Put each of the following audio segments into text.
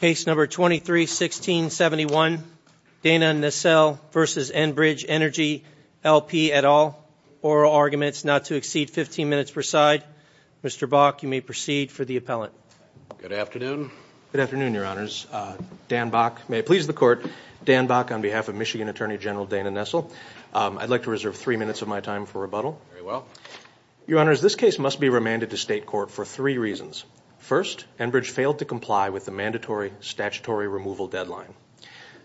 Case number 23-16-71 Dana Nessel v. Enbridge Energy LP et al. Oral arguments not to exceed 15 minutes per side. Mr. Bok, you may proceed for the appellant. Good afternoon. Good afternoon, Your Honors. Dan Bok, may it please the Court. Dan Bok on behalf of Michigan Attorney General Dana Nessel. I'd like to reserve three minutes of my time for rebuttal. Very well. Your Honors, this case must be remanded to state court for three reasons. First, Enbridge failed to comply with the mandatory statutory removal deadline.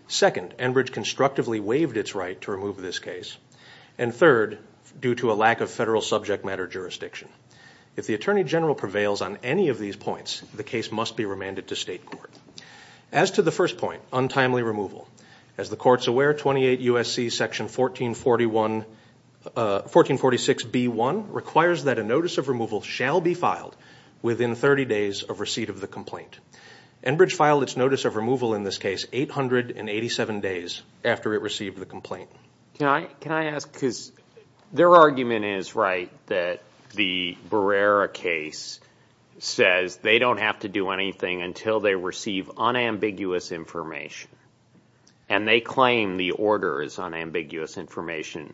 Second, Enbridge constructively waived its right to remove this case. And third, due to a lack of federal subject matter jurisdiction. If the Attorney General prevails on any of these points, the case must be remanded to state court. As to the first point, untimely removal. As the Court's aware, 28 U.S.C. Section 1446b-1 requires that a notice of removal shall be filed within 30 days of receipt of the complaint. Enbridge filed its notice of removal in this case 887 days after it received the complaint. Can I ask, because their argument is right that the Barrera case says they don't have to do anything until they receive unambiguous information. And they claim the order is unambiguous information.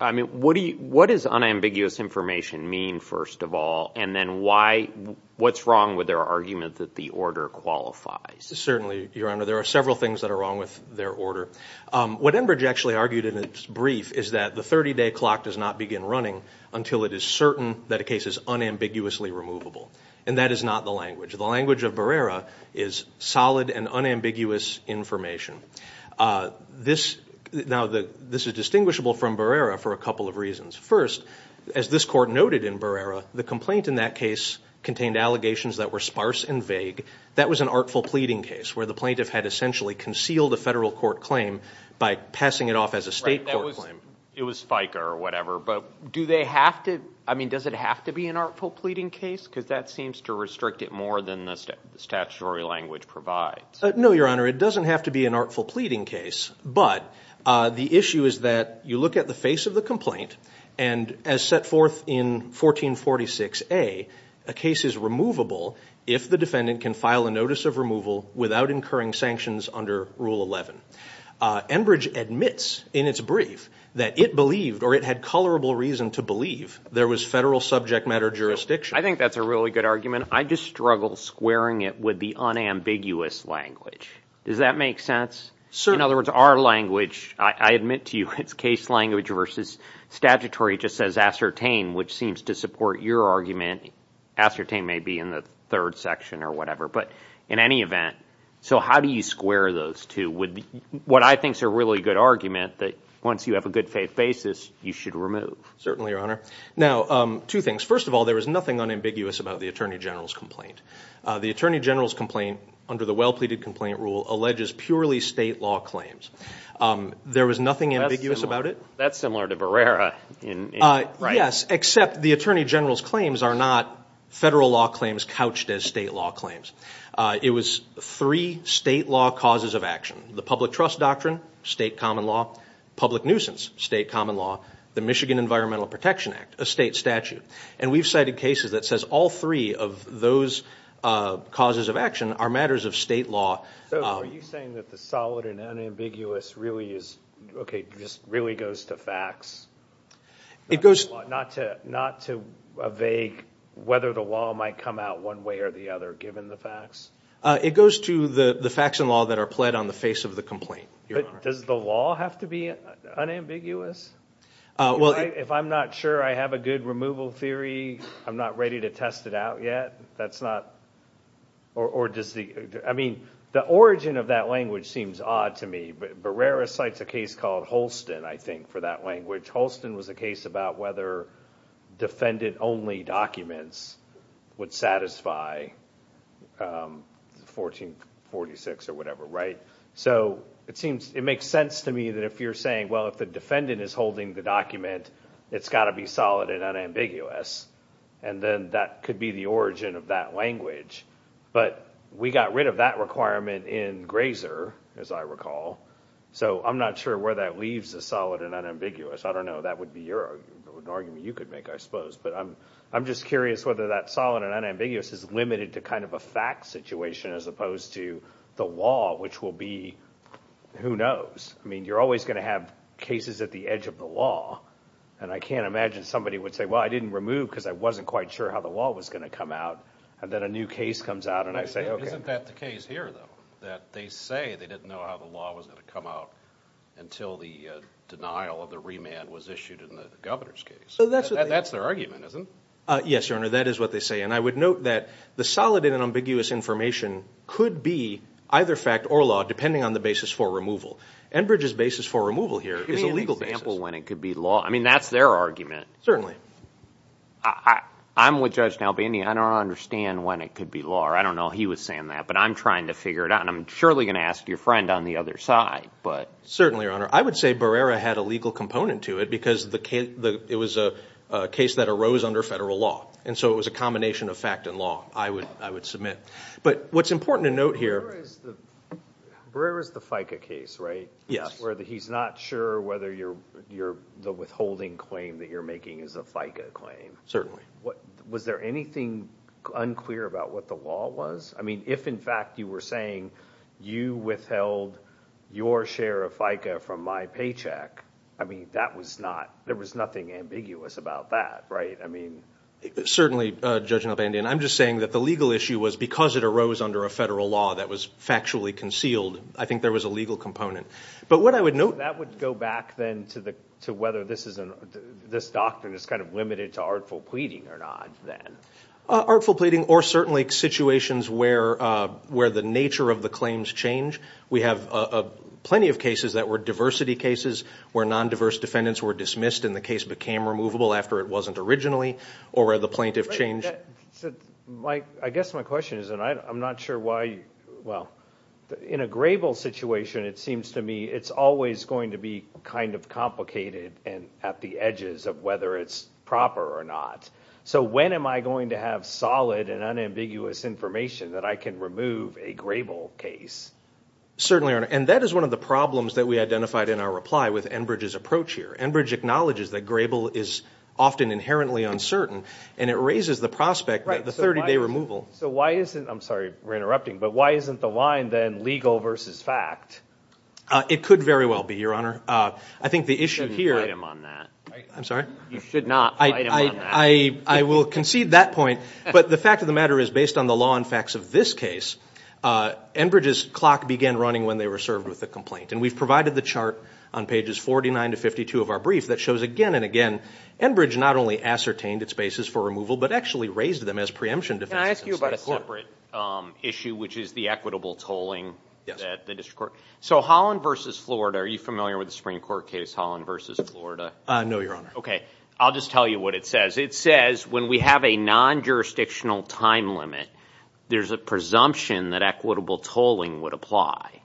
I mean, what is unambiguous information mean, first of all? And then why, what's wrong with their argument that the order qualifies? Certainly, Your Honor, there are several things that are wrong with their order. What Enbridge actually argued in its brief is that the 30-day clock does not begin running until it is certain that a case is unambiguously removable. And that is not the language. The language of Barrera is solid and unambiguous information. Now, this is distinguishable from Barrera for a couple of reasons. First, as this Court noted in Barrera, the complaint in that case contained allegations that were sparse and vague. That was an artful pleading case where the plaintiff had essentially concealed a federal court claim by passing it off as a state court claim. It was FICA or whatever, but do they have to, I mean, does it have to be an artful pleading case? Because that seems to restrict it more than the statutory language provides. No, Your Honor, it doesn't have to be an artful pleading case, but the issue is that you look at the face of the complaint, and as set forth in 1446A, a case is removable if the defendant can file a notice of removal without incurring sanctions under Rule 11. Enbridge admits in its brief that it believed, or it had colorable reason to believe, there was federal subject matter jurisdiction. I think that's a really good argument. I just struggle squaring it with the unambiguous language. Does that make sense? Certainly. In other words, our language, I admit to you, it's case language versus statutory. It just says ascertain, which seems to support your argument. Ascertain may be in the third section or whatever, but in any event, so how do you square those two with what I think is a really good argument that once you have a good faith basis, you should remove? Certainly, Your Honor. Now, two things. First of all, there was nothing unambiguous about the Attorney General's complaint. The Attorney General's complaint, under the well-pleaded complaint rule, alleges purely state law claims. There was nothing ambiguous about it. That's similar to Barrera. Yes, except the Attorney General's claims are not federal law claims couched as state law claims. It was three state law causes of action. The public trust doctrine, state common law. Public nuisance, state common law. The Michigan Environmental Protection Act, a state statute. And we've cited cases that says all three of those causes of action are matters of state law. So are you saying that the solid and unambiguous really goes to facts? Not to evade whether the law might come out one way or the other, given the facts? It goes to the facts and law that are pled on the face of the complaint, Your Honor. Does the law have to be unambiguous? If I'm not sure I have a good removal theory, I'm not ready to test it out yet? The origin of that language seems odd to me. Barrera cites a case called Holston, I think, for that language. Holston was a case about whether defendant-only documents would satisfy 1446 or whatever, right? So it makes sense to me that if you're saying, well, if the defendant is holding the document, it's got to be solid and unambiguous. And then that could be the origin of that language. But we got rid of that requirement in Grazer, as I recall. So I'm not sure where that leaves the solid and unambiguous. I don't know. That would be an argument you could make, I suppose. But I'm just curious whether that solid and unambiguous is limited to kind of a fact situation as opposed to the law, which will be who knows. I mean, you're always going to have cases at the edge of the law. And I can't imagine somebody would say, well, I didn't remove because I wasn't quite sure how the law was going to come out. And then a new case comes out and I say, okay. Isn't that the case here, though, that they say they didn't know how the law was going to come out until the denial of the remand was issued in the governor's case? That's their argument, isn't it? Yes, Your Honor. That is what they say. And I would note that the solid and unambiguous information could be either fact or law, depending on the basis for removal. Enbridge's basis for removal here is a legal basis. Give me an example when it could be law. I mean, that's their argument. I'm with Judge Nalbini. I don't understand when it could be law. I don't know he was saying that. But I'm trying to figure it out. And I'm surely going to ask your friend on the other side. Certainly, Your Honor. I would say Barrera had a legal component to it because it was a case that arose under federal law. And so it was a combination of fact and law, I would submit. But what's important to note here... Barrera is the FICA case, right? Yes. Where he's not sure whether the withholding claim that you're making is a FICA claim. Certainly. Was there anything unclear about what the law was? I mean, if in fact you were saying you withheld your share of FICA from my paycheck, I mean, that was not... there was nothing ambiguous about that, right? I mean... Certainly, Judge Nalbini. And I'm just saying that the legal issue was because it arose under a federal law that was factually concealed, I think there was a legal component. But what I would note... to whether this doctrine is kind of limited to artful pleading or not, then. Artful pleading or certainly situations where the nature of the claims change. We have plenty of cases that were diversity cases where non-diverse defendants were dismissed and the case became removable after it wasn't originally, or where the plaintiff changed... I guess my question is, and I'm not sure why... well, in a Grable situation, it seems to me it's always going to be kind of complicated and at the edges of whether it's proper or not. So when am I going to have solid and unambiguous information that I can remove a Grable case? Certainly, Your Honor. And that is one of the problems that we identified in our reply with Enbridge's approach here. Enbridge acknowledges that Grable is often inherently uncertain, and it raises the prospect that the 30-day removal... So why isn't... I'm sorry, we're interrupting, but why isn't the line then legal versus fact? It could very well be, Your Honor. I think the issue here... You shouldn't fight him on that. I'm sorry? You should not fight him on that. I will concede that point, but the fact of the matter is, based on the law and facts of this case, Enbridge's clock began running when they were served with the complaint. And we've provided the chart on pages 49 to 52 of our brief that shows again and again, Enbridge not only ascertained its basis for removal, but actually raised them as preemption defenses. Can I ask you about a separate issue, which is the equitable tolling that the district court... Yes. So Holland v. Florida, are you familiar with the Supreme Court case Holland v. Florida? No, Your Honor. Okay. I'll just tell you what it says. It says when we have a non-jurisdictional time limit, there's a presumption that equitable tolling would apply.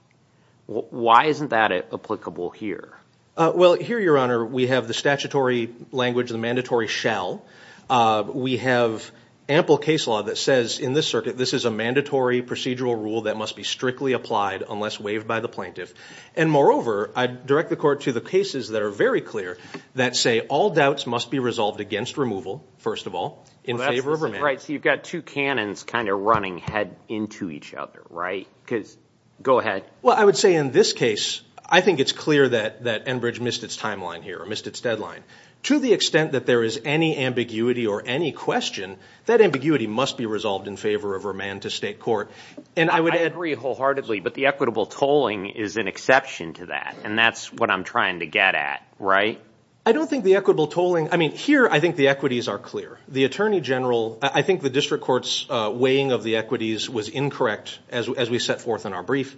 Why isn't that applicable here? Well, here, Your Honor, we have the statutory language, the mandatory shall. We have ample case law that says in this circuit, this is a mandatory procedural rule that must be strictly applied unless waived by the plaintiff. And moreover, I direct the court to the cases that are very clear that say all doubts must be resolved against removal, first of all, in favor of a man. Right. So you've got two cannons kind of running head into each other, right? Because go ahead. Well, I would say in this case, I think it's clear that Enbridge missed its timeline here or missed its deadline. To the extent that there is any ambiguity or any question, that ambiguity must be resolved in favor of a man to state court. I agree wholeheartedly, but the equitable tolling is an exception to that. And that's what I'm trying to get at, right? I don't think the equitable tolling, I mean, here I think the equities are clear. The attorney general, I think the district court's weighing of the equities was incorrect as we set forth in our brief.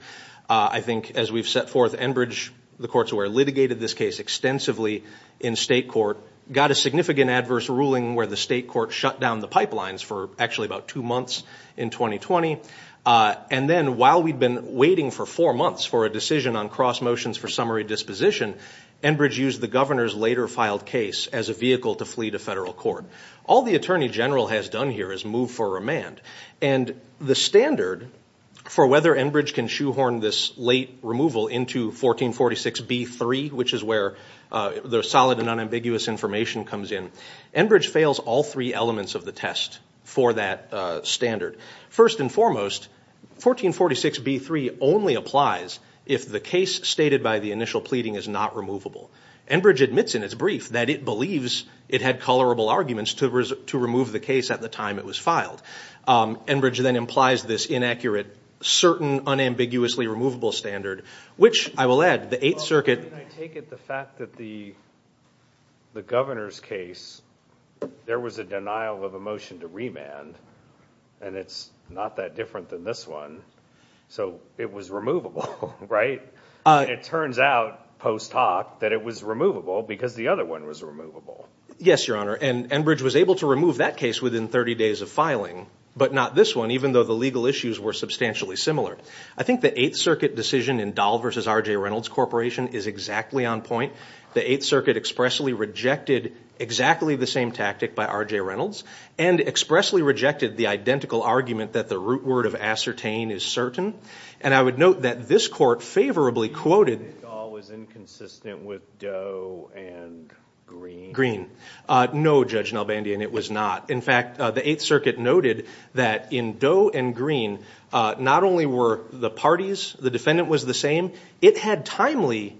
I think as we've set forth Enbridge, the courts where litigated this case extensively in state court, got a significant adverse ruling where the state court shut down the pipelines for actually about two months in 2020. And then while we'd been waiting for four months for a decision on cross motions for summary disposition, Enbridge used the governor's later filed case as a vehicle to flee to federal court. All the attorney general has done here is move for remand. And the standard for whether Enbridge can shoehorn this late removal into 1446B3, which is where the solid and unambiguous information comes in, Enbridge fails all three elements of the test for that standard. First and foremost, 1446B3 only applies if the case stated by the initial pleading is not removable. Enbridge admits in its brief that it believes it had colorable arguments to remove the case at the time it was filed. Enbridge then implies this inaccurate certain unambiguously removable standard, which I will add, the Eighth Circuit. I take it the fact that the governor's case, there was a denial of a motion to remand. And it's not that different than this one. So it was removable, right? It turns out post hoc that it was removable because the other one was removable. Yes, Your Honor. And Enbridge was able to remove that case within 30 days of filing, but not this one, even though the legal issues were substantially similar. I think the Eighth Circuit decision in Dahl v. R.J. Reynolds Corporation is exactly on point. The Eighth Circuit expressly rejected exactly the same tactic by R.J. Reynolds and expressly rejected the identical argument that the root word of ascertain is certain. And I would note that this court favorably quoted. Do you think Dahl was inconsistent with Doe and Green? Green. No, Judge Nelbandian, it was not. In fact, the Eighth Circuit noted that in Doe and Green, not only were the parties, the defendant was the same, it had timely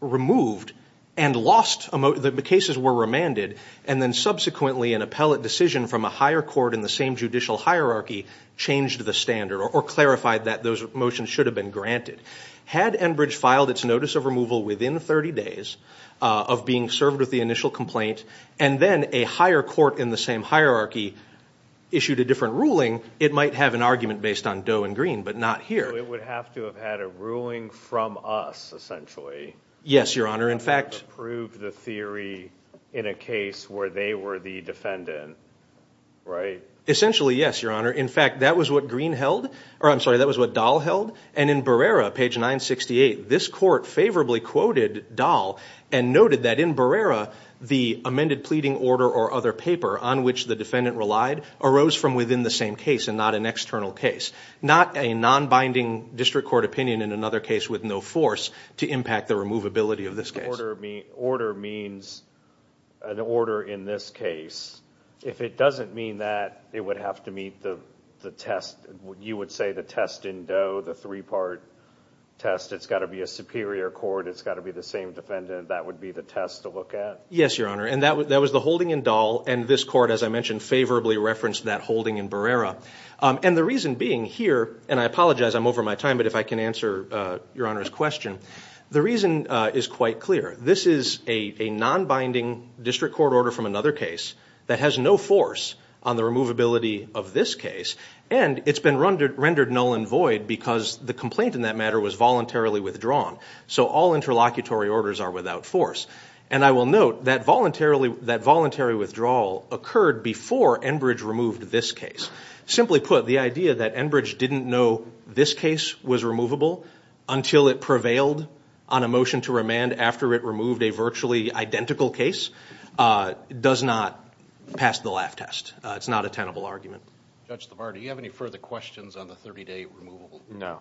removed and lost, the cases were remanded, and then subsequently an appellate decision from a higher court in the same judicial hierarchy changed the standard or clarified that those motions should have been granted. Had Enbridge filed its notice of removal within 30 days of being served with the initial complaint and then a higher court in the same hierarchy issued a different ruling, it might have an argument based on Doe and Green, but not here. So it would have to have had a ruling from us, essentially. Yes, Your Honor. To prove the theory in a case where they were the defendant, right? Essentially, yes, Your Honor. In fact, that was what Green held, or I'm sorry, that was what Dahl held, and in Barrera, page 968, this court favorably quoted Dahl and noted that in Barrera, the amended pleading order or other paper on which the defendant relied arose from within the same case and not an external case, not a non-binding district court opinion in another case with no force to impact the removability of this case. Order means an order in this case. If it doesn't mean that, it would have to meet the test. You would say the test in Doe, the three-part test, it's got to be a superior court, it's got to be the same defendant, that would be the test to look at? Yes, Your Honor, and that was the holding in Dahl, and this court, as I mentioned, favorably referenced that holding in Barrera. And the reason being here, and I apologize, I'm over my time, but if I can answer Your Honor's question, the reason is quite clear. This is a non-binding district court order from another case that has no force on the removability of this case, and it's been rendered null and void because the complaint in that matter was voluntarily withdrawn. So all interlocutory orders are without force. And I will note that voluntary withdrawal occurred before Enbridge removed this case. Simply put, the idea that Enbridge didn't know this case was removable until it prevailed on a motion to remand after it removed a virtually identical case does not pass the laugh test. It's not a tenable argument. Judge LaVar, do you have any further questions on the 30-day removable? No.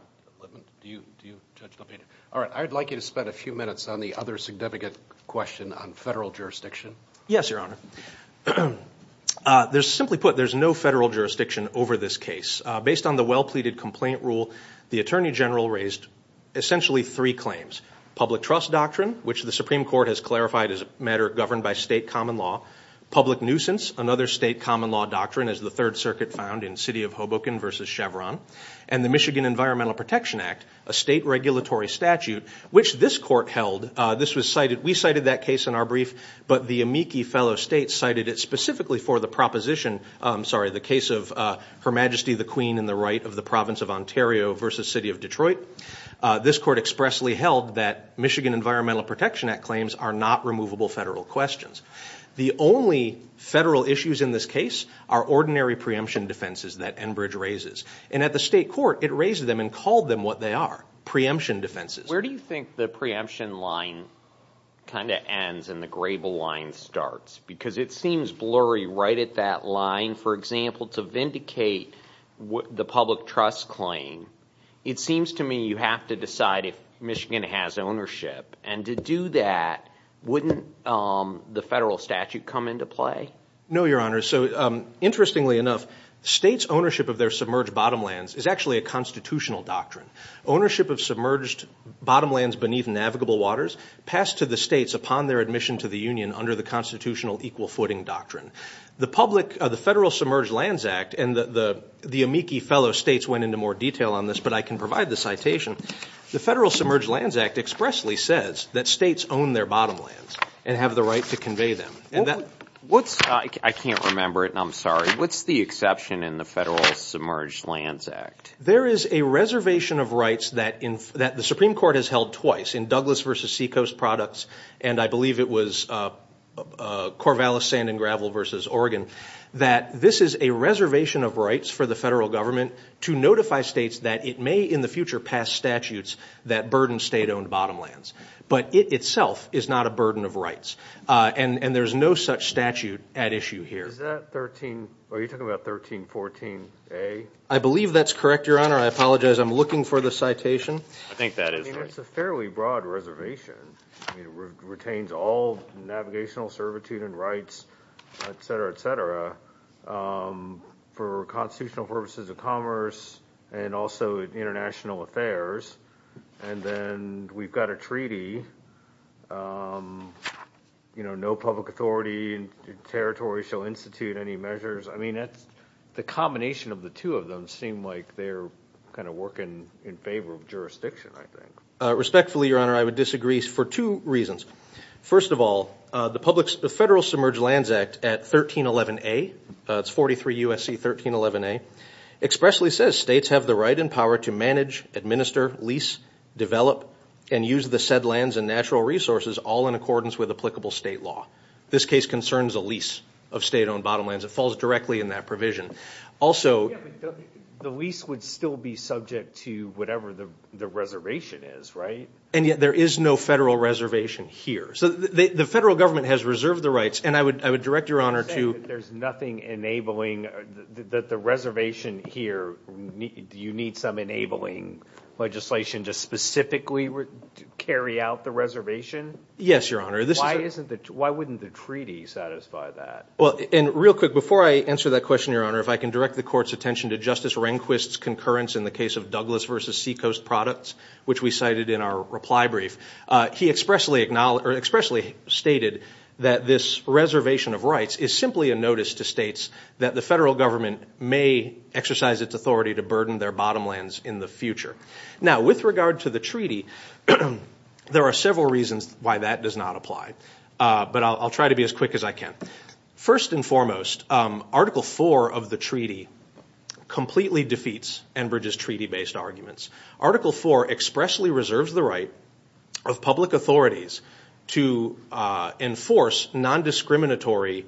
Do you, Judge LaVar? All right, I would like you to spend a few minutes on the other significant question on federal jurisdiction. Yes, Your Honor. Simply put, there's no federal jurisdiction over this case. Based on the well-pleaded complaint rule, the Attorney General raised essentially three claims, public trust doctrine, which the Supreme Court has clarified as a matter governed by state common law, public nuisance, another state common law doctrine, as the Third Circuit found in City of Hoboken v. Chevron, and the Michigan Environmental Protection Act, a state regulatory statute, which this court held. We cited that case in our brief, but the Amici fellow states cited it specifically for the proposition, I'm sorry, the case of Her Majesty the Queen in the Right of the Province of Ontario v. City of Detroit. This court expressly held that Michigan Environmental Protection Act claims are not removable federal questions. The only federal issues in this case are ordinary preemption defenses that Enbridge raises, and at the state court, it raised them and called them what they are, preemption defenses. Where do you think the preemption line kind of ends and the grable line starts? Because it seems blurry right at that line. For example, to vindicate the public trust claim, it seems to me you have to decide if Michigan has ownership, and to do that, wouldn't the federal statute come into play? No, Your Honor. Interestingly enough, states' ownership of their submerged bottomlands is actually a constitutional doctrine. Ownership of submerged bottomlands beneath navigable waters passed to the states upon their admission to the union under the constitutional equal footing doctrine. The Federal Submerged Lands Act, and the amici fellow states went into more detail on this, but I can provide the citation. The Federal Submerged Lands Act expressly says that states own their bottomlands and have the right to convey them. I can't remember it, and I'm sorry. What's the exception in the Federal Submerged Lands Act? There is a reservation of rights that the Supreme Court has held twice in Douglas v. Seacoast Products, and I believe it was Corvallis Sand and Gravel v. Oregon, that this is a reservation of rights for the federal government to notify states that it may in the future pass statutes that burden state-owned bottomlands. But it itself is not a burden of rights, and there's no such statute at issue here. Are you talking about 1314A? I believe that's correct, Your Honor. I apologize. I'm looking for the citation. I think that is right. I mean, it's a fairly broad reservation. It retains all navigational servitude and rights, et cetera, et cetera, for constitutional purposes of commerce and also international affairs. And then we've got a treaty, you know, no public authority in territory shall institute any measures. I mean, the combination of the two of them seem like they're kind of working in favor of jurisdiction, I think. Respectfully, Your Honor, I would disagree for two reasons. First of all, the Federal Submerged Lands Act at 1311A, it's 43 U.S.C. 1311A, expressly says states have the right and power to manage, administer, lease, develop, and use the said lands and natural resources all in accordance with applicable state law. This case concerns a lease of state-owned bottomlands. It falls directly in that provision. The lease would still be subject to whatever the reservation is, right? And yet there is no federal reservation here. So the federal government has reserved the rights, and I would direct Your Honor to – You're saying that there's nothing enabling, that the reservation here, do you need some enabling legislation to specifically carry out the reservation? Yes, Your Honor. Why wouldn't the treaty satisfy that? Well, and real quick, before I answer that question, Your Honor, if I can direct the Court's attention to Justice Rehnquist's concurrence in the case of Douglas v. Seacoast Products, which we cited in our reply brief. He expressly stated that this reservation of rights is simply a notice to states that the federal government may exercise its authority to burden their bottomlands in the future. Now, with regard to the treaty, there are several reasons why that does not apply, but I'll try to be as quick as I can. First and foremost, Article IV of the treaty completely defeats Enbridge's treaty-based arguments. Article IV expressly reserves the right of public authorities to enforce nondiscriminatory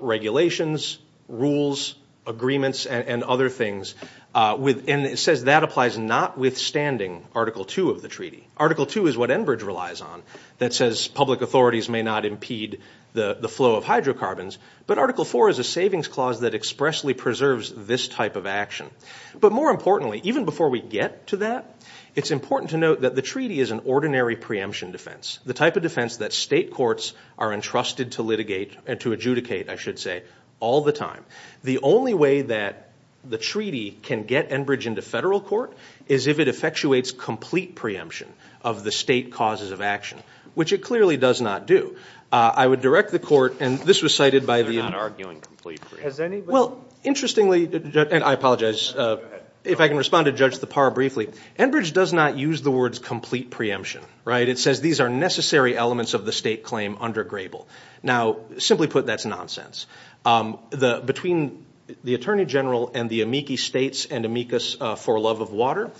regulations, rules, agreements, and other things, and it says that applies notwithstanding Article II of the treaty. Article II is what Enbridge relies on, that says public authorities may not impede the flow of hydrocarbons, but Article IV is a savings clause that expressly preserves this type of action. But more importantly, even before we get to that, it's important to note that the treaty is an ordinary preemption defense, the type of defense that state courts are entrusted to litigate and to adjudicate, I should say, all the time. The only way that the treaty can get Enbridge into federal court is if it effectuates complete preemption of the state causes of action, which it clearly does not do. I would direct the court, and this was cited by the- They're not arguing complete preemption. Well, interestingly, and I apologize, if I can respond to Judge Thapar briefly, Enbridge does not use the words complete preemption. It says these are necessary elements of the state claim under Grable. Now, simply put, that's nonsense. Between the Attorney General and the amici states and amicus for love of water,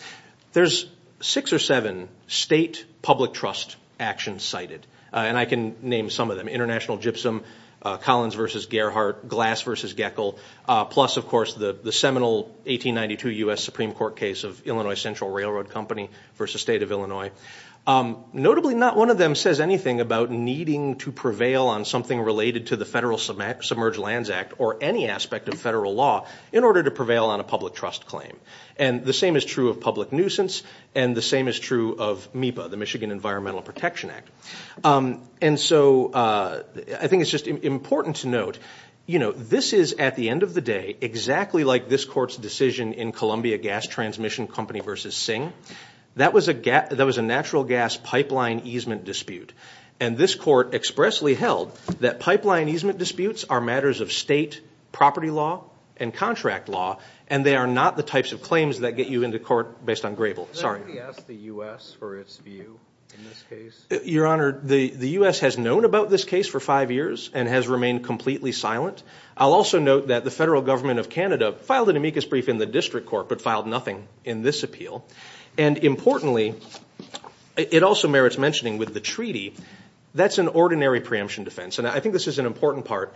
there's six or seven state public trust actions cited, and I can name some of them. International Gypsum, Collins v. Gerhart, Glass v. Geckel, plus, of course, the seminal 1892 U.S. Supreme Court case of Illinois Central Railroad Company v. State of Illinois. Notably, not one of them says anything about needing to prevail on something related to the Federal Submerged Lands Act or any aspect of federal law in order to prevail on a public trust claim. The same is true of public nuisance, and the same is true of MEPA, the Michigan Environmental Protection Act. I think it's just important to note, this is, at the end of the day, exactly like this court's decision in Columbia Gas Transmission Company v. Singh. That was a natural gas pipeline easement dispute, and this court expressly held that pipeline easement disputes are matters of state property law and contract law, and they are not the types of claims that get you into court based on grable. Sorry. Can I ask the U.S. for its view in this case? Your Honor, the U.S. has known about this case for five years and has remained completely silent. I'll also note that the federal government of Canada filed an amicus brief in the district court but filed nothing in this appeal, and importantly, it also merits mentioning with the treaty, that's an ordinary preemption defense, and I think this is an important part.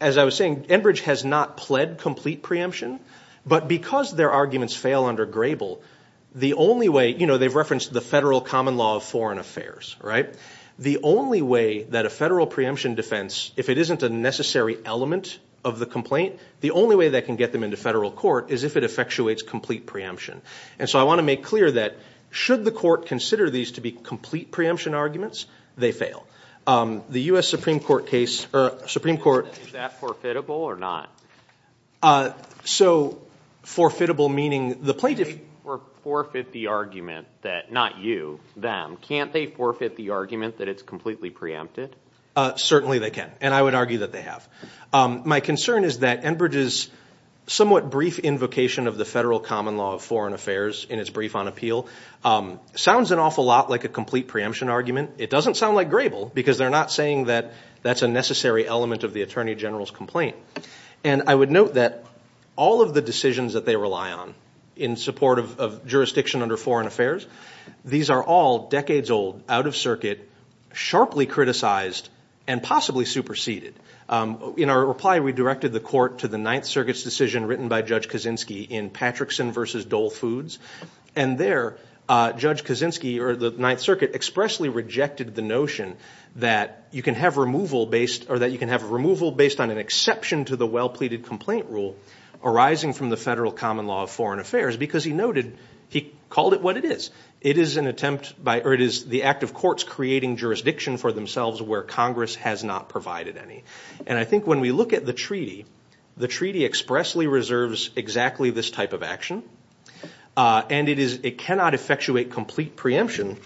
As I was saying, Enbridge has not pled complete preemption, but because their arguments fail under grable, the only way, you know, they've referenced the federal common law of foreign affairs, right? The only way that a federal preemption defense, if it isn't a necessary element of the complaint, the only way that can get them into federal court is if it effectuates complete preemption, and so I want to make clear that should the court consider these to be complete preemption arguments, they fail. The U.S. Supreme Court case or Supreme Court- Is that forfeitable or not? So forfeitable meaning the plaintiff- Can they forfeit the argument that, not you, them, can't they forfeit the argument that it's completely preempted? Certainly they can, and I would argue that they have. My concern is that Enbridge's somewhat brief invocation of the federal common law of foreign affairs in its brief on appeal sounds an awful lot like a complete preemption argument. It doesn't sound like grable because they're not saying that that's a necessary element of the attorney general's complaint, and I would note that all of the decisions that they rely on in support of jurisdiction under foreign affairs, these are all decades old, out of circuit, sharply criticized, and possibly superseded. In our reply, we directed the court to the Ninth Circuit's decision written by Judge Kaczynski in Patrickson v. Dole Foods, and there, Judge Kaczynski, or the Ninth Circuit, expressly rejected the notion that you can have removal based on an exception to the well-pleaded complaint rule arising from the federal common law of foreign affairs because he noted he called it what it is. It is the act of courts creating jurisdiction for themselves where Congress has not provided any, and I think when we look at the treaty, the treaty expressly reserves exactly this type of action. And it cannot effectuate complete preemption.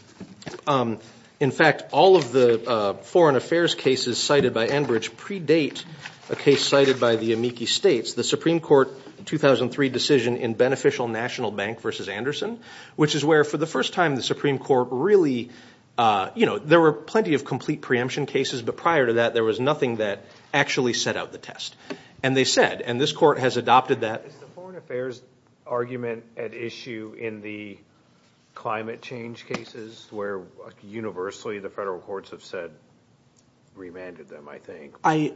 In fact, all of the foreign affairs cases cited by Enbridge predate a case cited by the amici states, the Supreme Court 2003 decision in Beneficial National Bank v. Anderson, which is where, for the first time, the Supreme Court really, you know, there were plenty of complete preemption cases, but prior to that, there was nothing that actually set out the test. And they said, and this court has adopted that. Is the foreign affairs argument at issue in the climate change cases where universally the federal courts have said remanded them, I think?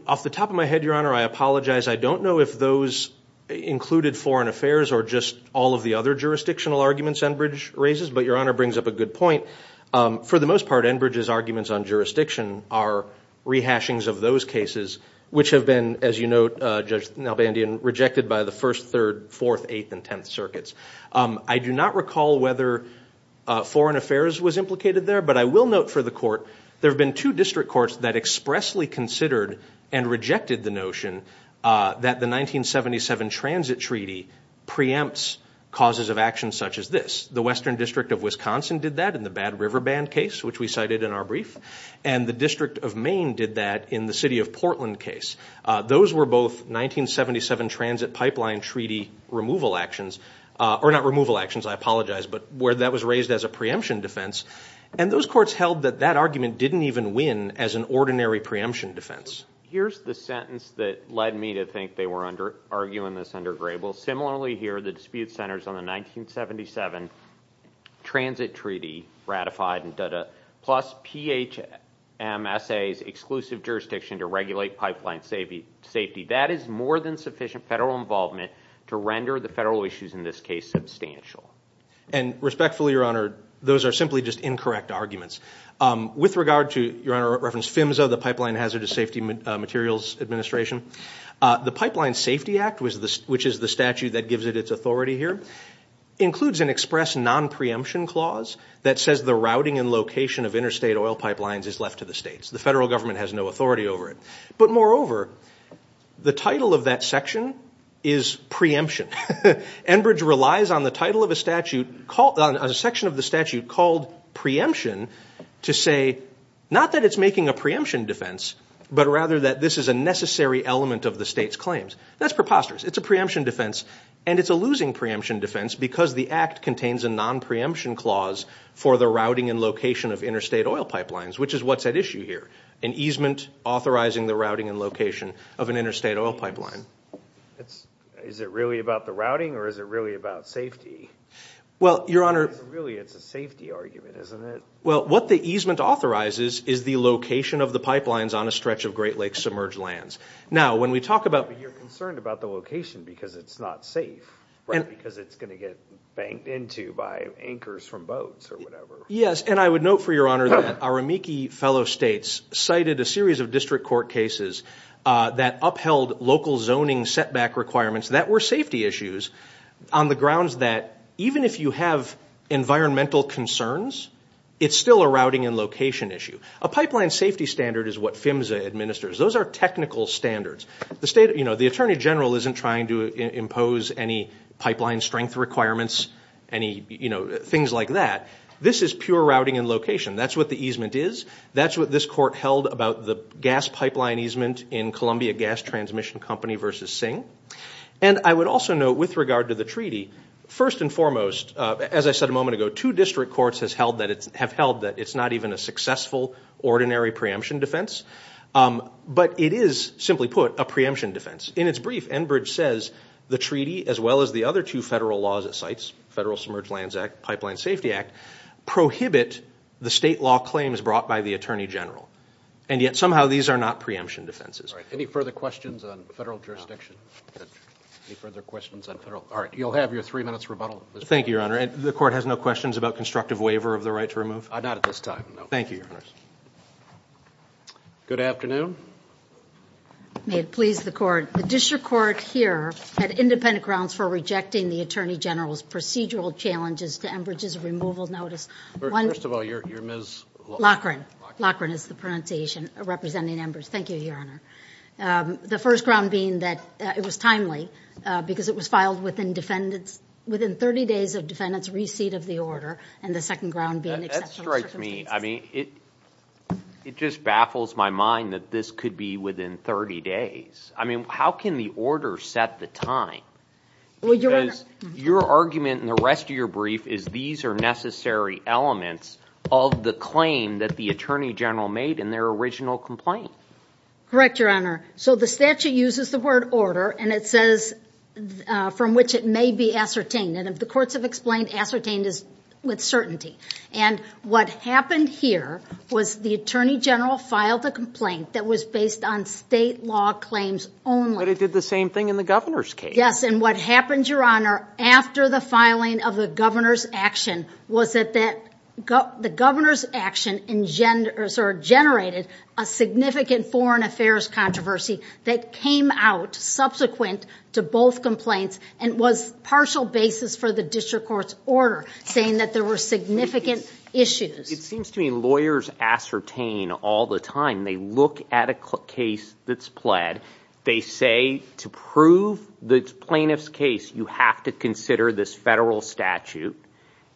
Off the top of my head, Your Honor, I apologize. I don't know if those included foreign affairs or just all of the other jurisdictional arguments Enbridge raises, but Your Honor brings up a good point. For the most part, Enbridge's arguments on jurisdiction are rehashings of those cases, which have been, as you note, Judge Nalbandian, rejected by the 1st, 3rd, 4th, 8th, and 10th circuits. I do not recall whether foreign affairs was implicated there, but I will note for the court, there have been two district courts that expressly considered and rejected the notion that the 1977 Transit Treaty preempts causes of action such as this. The Western District of Wisconsin did that in the Bad River Band case, which we cited in our brief, and the District of Maine did that in the City of Portland case. Those were both 1977 Transit Pipeline Treaty removal actions, or not removal actions, I apologize, but where that was raised as a preemption defense, and those courts held that that argument didn't even win as an ordinary preemption defense. Here's the sentence that led me to think they were arguing this under Grable. You'll similarly hear the dispute centers on the 1977 Transit Treaty ratified, plus PHMSA's exclusive jurisdiction to regulate pipeline safety. That is more than sufficient federal involvement to render the federal issues in this case substantial. Respectfully, Your Honor, those are simply just incorrect arguments. With regard to, Your Honor referenced PHMSA, the Pipeline Hazardous Safety Materials Administration. The Pipeline Safety Act, which is the statute that gives it its authority here, includes an express non-preemption clause that says the routing and location of interstate oil pipelines is left to the states. The federal government has no authority over it. But moreover, the title of that section is preemption. Enbridge relies on the title of a section of the statute called preemption to say, not that it's making a preemption defense, but rather that this is a necessary element of the state's claims. That's preposterous. It's a preemption defense, and it's a losing preemption defense because the act contains a non-preemption clause for the routing and location of interstate oil pipelines, which is what's at issue here, an easement authorizing the routing and location of an interstate oil pipeline. Is it really about the routing, or is it really about safety? Well, Your Honor. Really, it's a safety argument, isn't it? Well, what the easement authorizes is the location of the pipelines on a stretch of Great Lakes submerged lands. Now, when we talk about- But you're concerned about the location because it's not safe, because it's going to get banked into by anchors from boats or whatever. Yes, and I would note, for Your Honor, that our amici fellow states cited a series of district court cases that upheld local zoning setback requirements that were safety issues on the grounds that even if you have environmental concerns, it's still a routing and location issue. A pipeline safety standard is what PHMSA administers. Those are technical standards. The Attorney General isn't trying to impose any pipeline strength requirements, any things like that. This is pure routing and location. That's what the easement is. That's what this court held about the gas pipeline easement in Columbia Gas Transmission Company versus Singh. And I would also note, with regard to the treaty, first and foremost, as I said a moment ago, two district courts have held that it's not even a successful ordinary preemption defense, but it is, simply put, a preemption defense. In its brief, Enbridge says the treaty, as well as the other two federal laws it cites, Federal Submerged Lands Act, Pipeline Safety Act, prohibit the state law claims brought by the Attorney General. And yet, somehow, these are not preemption defenses. Any further questions on federal jurisdiction? Any further questions on federal? All right. You'll have your three minutes rebuttal. Thank you, Your Honor. The court has no questions about constructive waiver of the right to remove? Not at this time, no. Thank you, Your Honor. Good afternoon. May it please the court. The district court here had independent grounds for rejecting the Attorney General's procedural challenges to Enbridge's removal notice. First of all, you're Ms. Loughran. Loughran. Loughran is the pronunciation representing Enbridge. Thank you, Your Honor. The first ground being that it was timely because it was filed within 30 days of defendant's receipt of the order, and the second ground being exceptional circumstances. That strikes me. I mean, it just baffles my mind that this could be within 30 days. I mean, how can the order set the time? Your argument in the rest of your brief is these are necessary elements of the claim that the Attorney General made in their original complaint. Correct, Your Honor. So the statute uses the word order, and it says from which it may be ascertained. And if the courts have explained, ascertained is with certainty. And what happened here was the Attorney General filed a complaint that was based on state law claims only. But it did the same thing in the governor's case. Yes, and what happened, Your Honor, after the filing of the governor's action was that the governor's action generated a significant foreign affairs controversy that came out subsequent to both complaints and was partial basis for the district court's order saying that there were significant issues. It seems to me lawyers ascertain all the time. They look at a case that's pled. They say to prove the plaintiff's case, you have to consider this federal statute,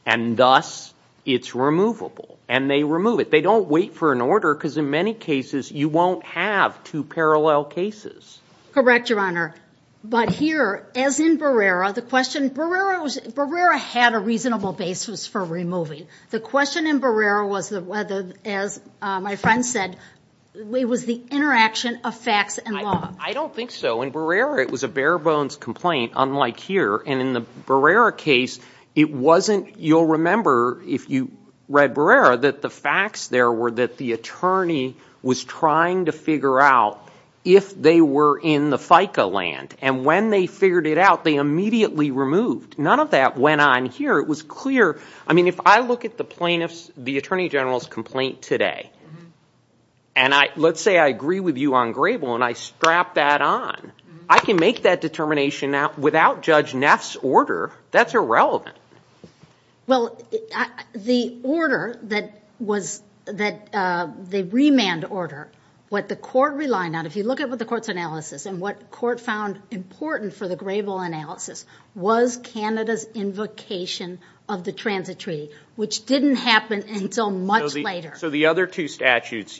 and thus it's removable. And they remove it. They don't wait for an order because in many cases you won't have two parallel cases. Correct, Your Honor. But here, as in Barrera, the question, Barrera had a reasonable basis for removing. The question in Barrera was whether, as my friend said, it was the interaction of facts and law. I don't think so. In Barrera, it was a bare bones complaint, unlike here. And in the Barrera case, it wasn't, you'll remember if you read Barrera, that the facts there were that the attorney was trying to figure out if they were in the FICA land. And when they figured it out, they immediately removed. None of that went on here. It was clear. I mean, if I look at the attorney general's complaint today, and let's say I agree with you on Grable, and I strap that on, I can make that determination without Judge Neff's order. That's irrelevant. Well, the order that was the remand order, what the court relied on, if you look at what the court's analysis and what court found important for the Grable analysis, was Canada's invocation of the transit treaty, which didn't happen until much later. So the other two statutes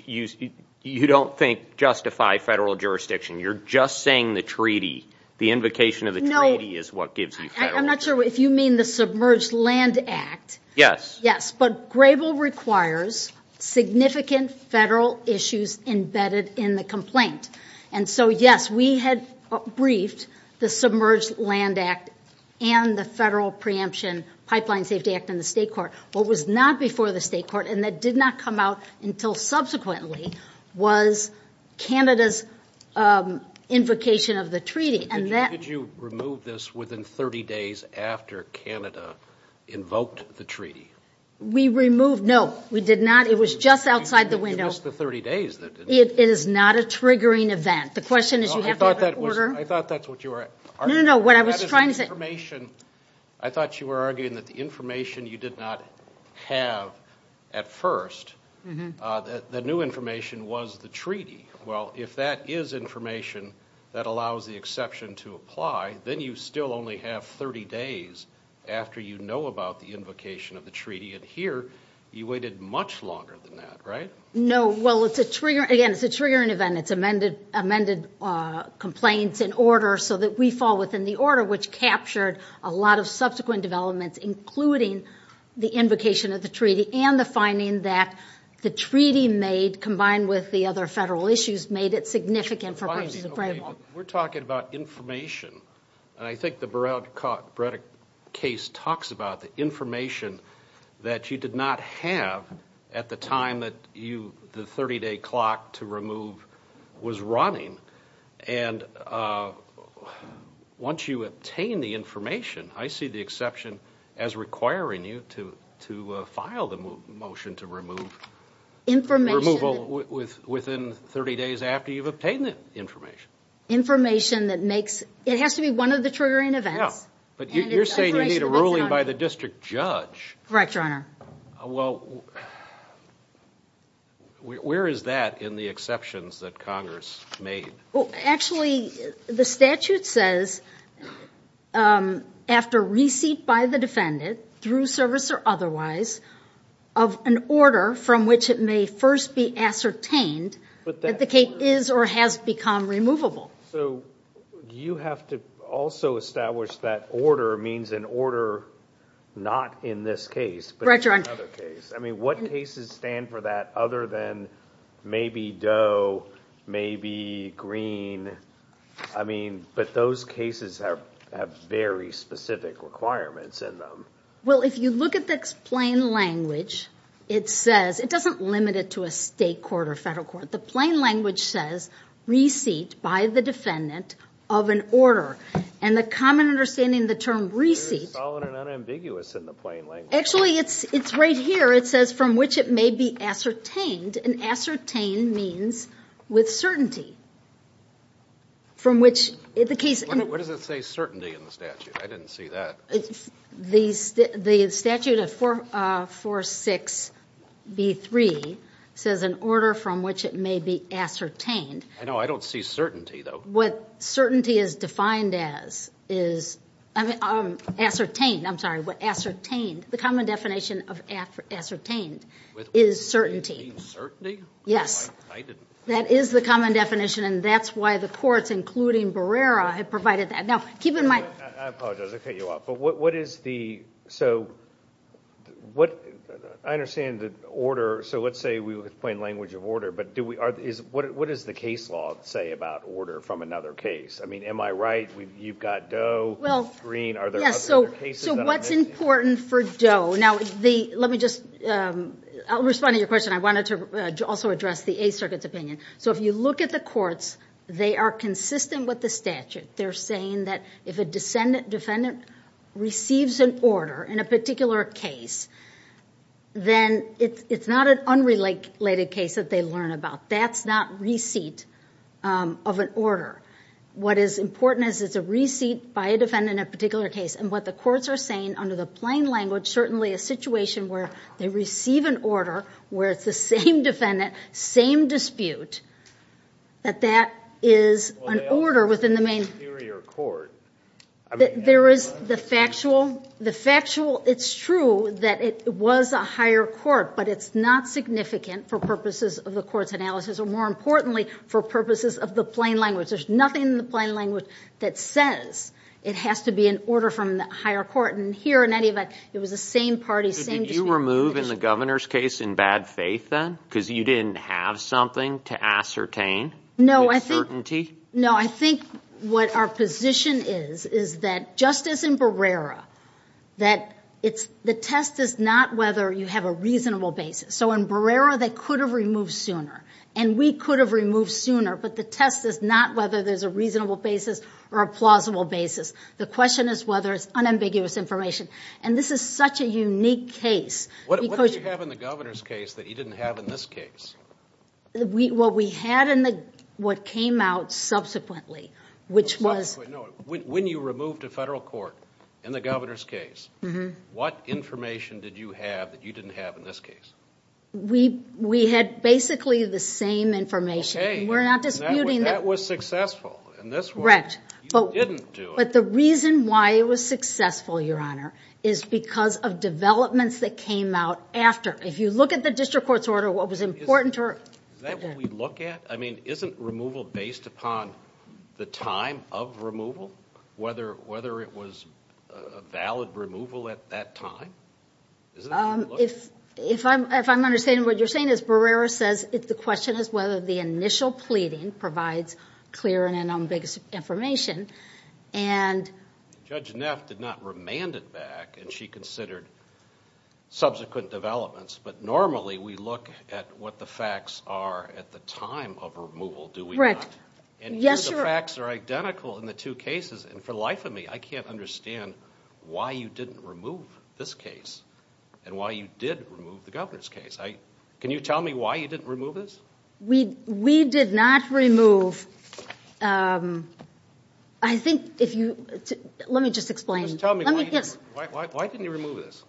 you don't think justify federal jurisdiction. You're just saying the treaty, the invocation of the treaty is what gives you federal jurisdiction. I'm not sure if you mean the Submerged Land Act. Yes. Yes, but Grable requires significant federal issues embedded in the complaint. And so, yes, we had briefed the Submerged Land Act and the Federal Preemption Pipeline Safety Act in the state court. What was not before the state court, and that did not come out until subsequently, was Canada's invocation of the treaty. Did you remove this within 30 days after Canada invoked the treaty? We removed, no, we did not. It was just outside the window. It was the 30 days that didn't come out. It is not a triggering event. The question is you have to have an order. I thought that's what you were arguing. No, no, no, what I was trying to say. I thought you were arguing that the information you did not have at first, the new information was the treaty. Well, if that is information that allows the exception to apply, then you still only have 30 days after you know about the invocation of the treaty. And here, you waited much longer than that, right? No, well, again, it's a triggering event. It's amended complaints in order so that we fall within the order, which captured a lot of subsequent developments, including the invocation of the treaty and the finding that the treaty made, combined with the other federal issues, made it significant for purposes of framework. We're talking about information, and I think the Braddock case talks about the information that you did not have at the time that the 30-day clock to remove was running. And once you obtain the information, I see the exception as requiring you to file the motion to remove. Information. Removal within 30 days after you've obtained the information. Information that makes, it has to be one of the triggering events. Yeah, but you're saying you need a ruling by the district judge. Correct, Your Honor. Well, where is that in the exceptions that Congress made? Well, actually, the statute says after receipt by the defendant through service or otherwise, of an order from which it may first be ascertained that the case is or has become removable. So you have to also establish that order means an order not in this case. Right, Your Honor. I mean, what cases stand for that other than maybe Doe, maybe Green? I mean, but those cases have very specific requirements in them. Well, if you look at the plain language, it says, it doesn't limit it to a state court or federal court. The plain language says, receipt by the defendant of an order. And the common understanding, the term receipt. It is solid and unambiguous in the plain language. Actually, it's right here. It says from which it may be ascertained. And ascertained means with certainty. From which the case. What does it say certainty in the statute? I didn't see that. The statute of 446B3 says an order from which it may be ascertained. I know, I don't see certainty though. What certainty is defined as is ascertained. I'm sorry, ascertained. The common definition of ascertained is certainty. With certainty? Yes. I didn't see that. That is the common definition. And that's why the courts, including Barrera, have provided that. Now, keep in mind. I apologize. I cut you off. But what is the, so what, I understand that order, so let's say we would explain language of order. But what does the case law say about order from another case? I mean, am I right? You've got Doe, Green. Are there other cases? So what's important for Doe? Now, let me just, I'll respond to your question. I wanted to also address the Eighth Circuit's opinion. So if you look at the courts, they are consistent with the statute. They're saying that if a defendant receives an order in a particular case, then it's not an unrelated case that they learn about. That's not receipt of an order. What is important is it's a receipt by a defendant in a particular case. And what the courts are saying under the plain language, certainly a situation where they receive an order where it's the same defendant, same dispute, that that is an order within the main... Well, they also say superior court. There is the factual. The factual, it's true that it was a higher court, but it's not significant for purposes of the court's analysis, or more importantly, for purposes of the plain language. There's nothing in the plain language that says it has to be an order from the higher court. And here, in any event, it was the same party, same dispute... So did you remove in the governor's case in bad faith then? Because you didn't have something to ascertain? No, I think... The point is, is that just as in Barrera, that it's... The test is not whether you have a reasonable basis. So in Barrera, they could have removed sooner, and we could have removed sooner, but the test is not whether there's a reasonable basis or a plausible basis. The question is whether it's unambiguous information. And this is such a unique case because... What did you have in the governor's case that you didn't have in this case? What we had in the... what came out subsequently, which was... When you removed a federal court in the governor's case, what information did you have that you didn't have in this case? We had basically the same information. Okay. We're not disputing... That was successful in this one. Correct. You didn't do it. But the reason why it was successful, Your Honor, is because of developments that came out after. If you look at the district court's order, what was important to her... Is that what we look at? I mean, isn't removal based upon the time of removal, whether it was a valid removal at that time? If I'm understanding what you're saying is, Barrera says the question is whether the initial pleading provides clear and unambiguous information. And... Judge Neff did not remand it back, and she considered subsequent developments. But normally we look at what the facts are at the time of removal, do we not? Yes, Your... And here the facts are identical in the two cases. And for the life of me, I can't understand why you didn't remove this case and why you did remove the governor's case. Can you tell me why you didn't remove this? We did not remove... I think if you... Let me just explain. Just tell me, why didn't you remove this?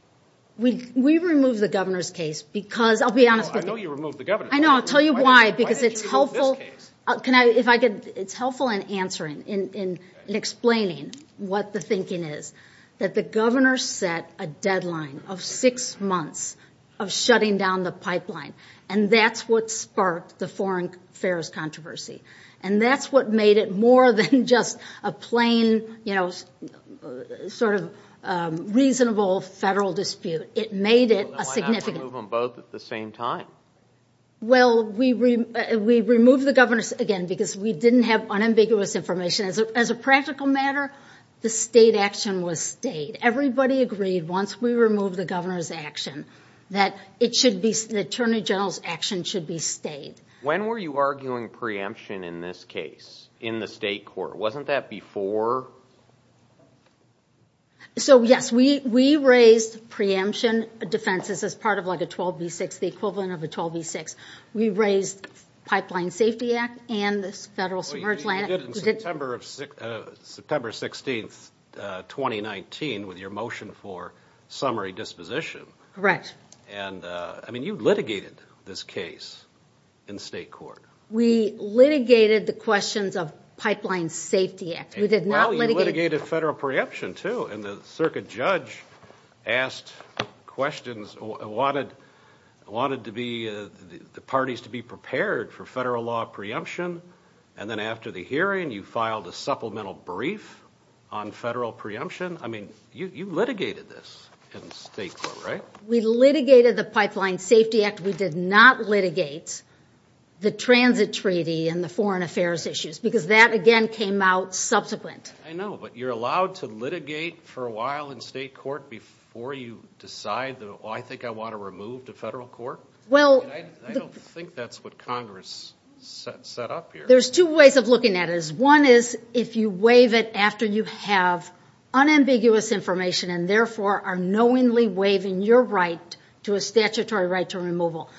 We removed the governor's case because... I'll be honest with you. I know you removed the governor's case. I know. I'll tell you why. Because it's helpful... Why didn't you remove this case? Can I... If I could... It's helpful in answering, in explaining what the thinking is. That the governor set a deadline of six months of shutting down the pipeline. And that's what sparked the foreign affairs controversy. And that's what made it more than just a plain, you know, sort of reasonable federal dispute. It made it a significant... Why not remove them both at the same time? Well, we removed the governor's... Again, because we didn't have unambiguous information. As a practical matter, the state action was state. Everybody agreed, once we removed the governor's action, that it should be... The Attorney General's action should be state. When were you arguing preemption in this case, in the state court? Wasn't that before... So, yes, we raised preemption defenses as part of like a 12B6, the equivalent of a 12B6. We raised Pipeline Safety Act and the Federal Submerged Land Act... Well, you did it in September 16, 2019, with your motion for summary disposition. Correct. And, I mean, you litigated this case in state court. We litigated the questions of Pipeline Safety Act. We did not litigate... Well, you litigated federal preemption, too. And the circuit judge asked questions, wanted to be... the parties to be prepared for federal law preemption. And then after the hearing, you filed a supplemental brief on federal preemption. I mean, you litigated this in state court, right? We litigated the Pipeline Safety Act. We did not litigate the transit treaty and the foreign affairs issues because that, again, came out subsequent. I know, but you're allowed to litigate for a while in state court before you decide that, oh, I think I want to remove to federal court? Well... I don't think that's what Congress set up here. There's two ways of looking at it. One is if you waive it after you have unambiguous information and, therefore, are knowingly waiving your right to a statutory right to removal.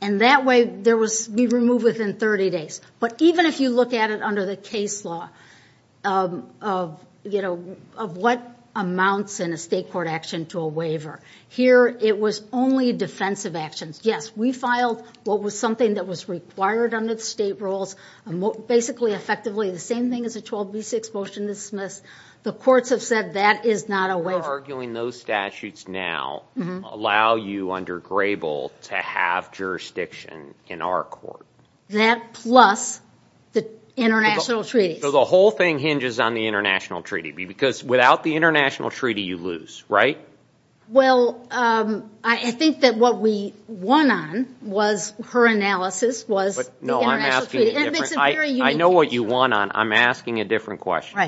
And that way, we remove within 30 days. But even if you look at it under the case law of what amounts in a state court action to a waiver, here it was only defensive actions. Yes, we filed what was something that was required under the state rules. Basically, effectively, the same thing as the 12B6 motion dismissed. The courts have said that is not a waiver. You're arguing those statutes now allow you under Grable to have jurisdiction in our court. That plus the international treaties. So the whole thing hinges on the international treaty because without the international treaty, you lose, right? Well, I think that what we won on was her analysis was the international treaty. I know what you won on. I'm asking a different question.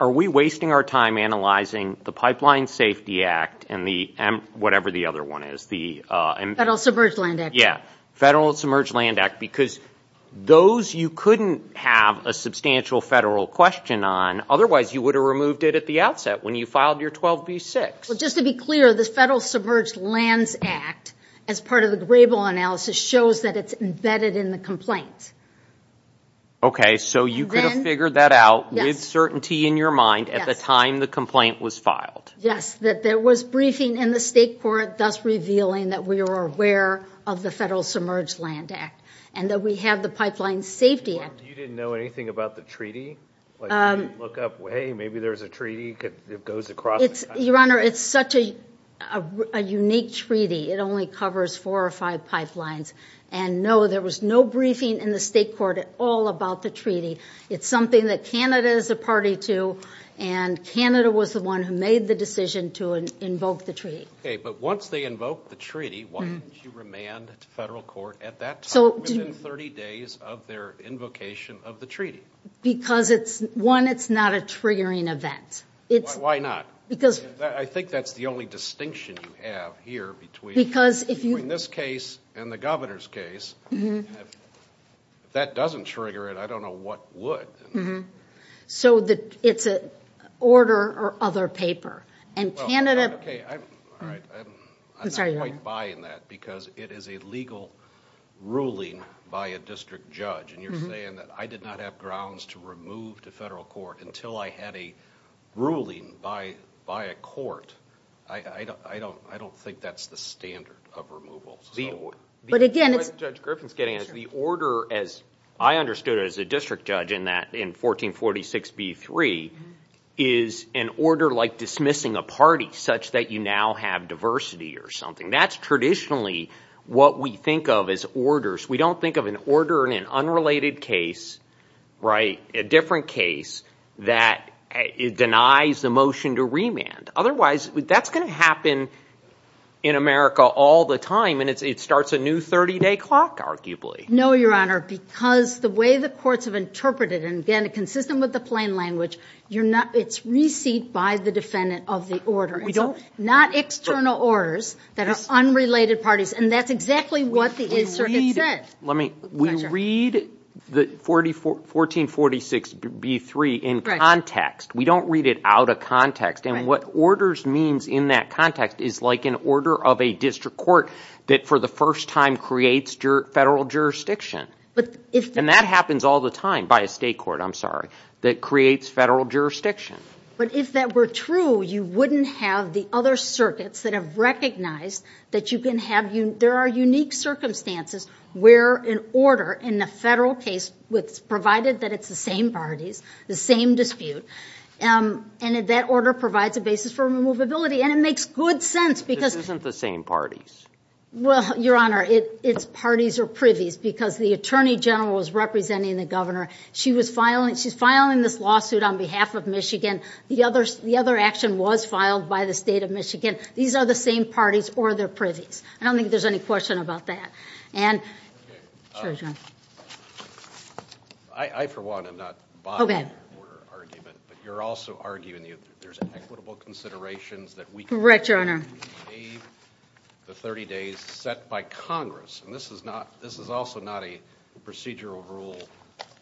Are we wasting our time analyzing the Pipeline Safety Act and the whatever the other one is? Federal Submerged Land Act. Yeah, Federal Submerged Land Act because those you couldn't have a substantial federal question on. Otherwise, you would have removed it at the outset when you filed your 12B6. Well, just to be clear, the Federal Submerged Lands Act as part of the Grable analysis shows that it's embedded in the complaint. Okay, so you could have figured that out with certainty in your mind at the time the complaint was filed. Yes, that there was briefing in the state court thus revealing that we were aware of the Federal Submerged Land Act and that we have the Pipeline Safety Act. You didn't know anything about the treaty? You didn't look up, hey, maybe there's a treaty that goes across the country? Your Honor, it's such a unique treaty. It only covers four or five pipelines and no, there was no briefing in the state court at all about the treaty. It's something that Canada is a party to and Canada was the one who made the decision to invoke the treaty. Okay, but once they invoked the treaty, why didn't you remand to federal court at that time within 30 days of their invocation of the treaty? Because one, it's not a triggering event. Why not? I think that's the only distinction you have here between this case and the governor's case. If that doesn't trigger it, I don't know what would. So it's an order or other paper. I'm not quite buying that because it is a legal ruling by a district judge and you're saying that I did not have grounds to remove to federal court until I had a ruling by a court. I don't think that's the standard of removal. The order as I understood it as a district judge in 1446B3 is an order like dismissing a party such that you now have diversity or something. That's traditionally what we think of as orders. We don't think of an order in an unrelated case, a different case that denies the motion to remand. Otherwise, that's going to happen in America all the time and it starts a new 30-day clock, arguably. No, Your Honor, because the way the courts have interpreted it, and again, consistent with the plain language, it's receipt by the defendant of the order. It's not external orders that are unrelated parties and that's exactly what the circuit said. We read 1446B3 in context. We don't read it out of context and what orders means in that context is like an order of a district court that for the first time creates federal jurisdiction. And that happens all the time by a state court, I'm sorry, that creates federal jurisdiction. But if that were true, you wouldn't have the other circuits that have recognized that there are unique circumstances where an order in a federal case, provided that it's the same parties, the same dispute, and that order provides a basis for removability and it makes good sense because... This isn't the same parties. Well, Your Honor, it's parties or privies because the Attorney General is representing the Governor. She's filing this lawsuit on behalf of Michigan. The other action was filed by the state of Michigan. These are the same parties or they're privies. I don't think there's any question about that. I, for one, am not buying your argument, but you're also arguing there's equitable considerations that we can make... Correct, Your Honor. ...the 30 days set by Congress, and this is also not a procedural rule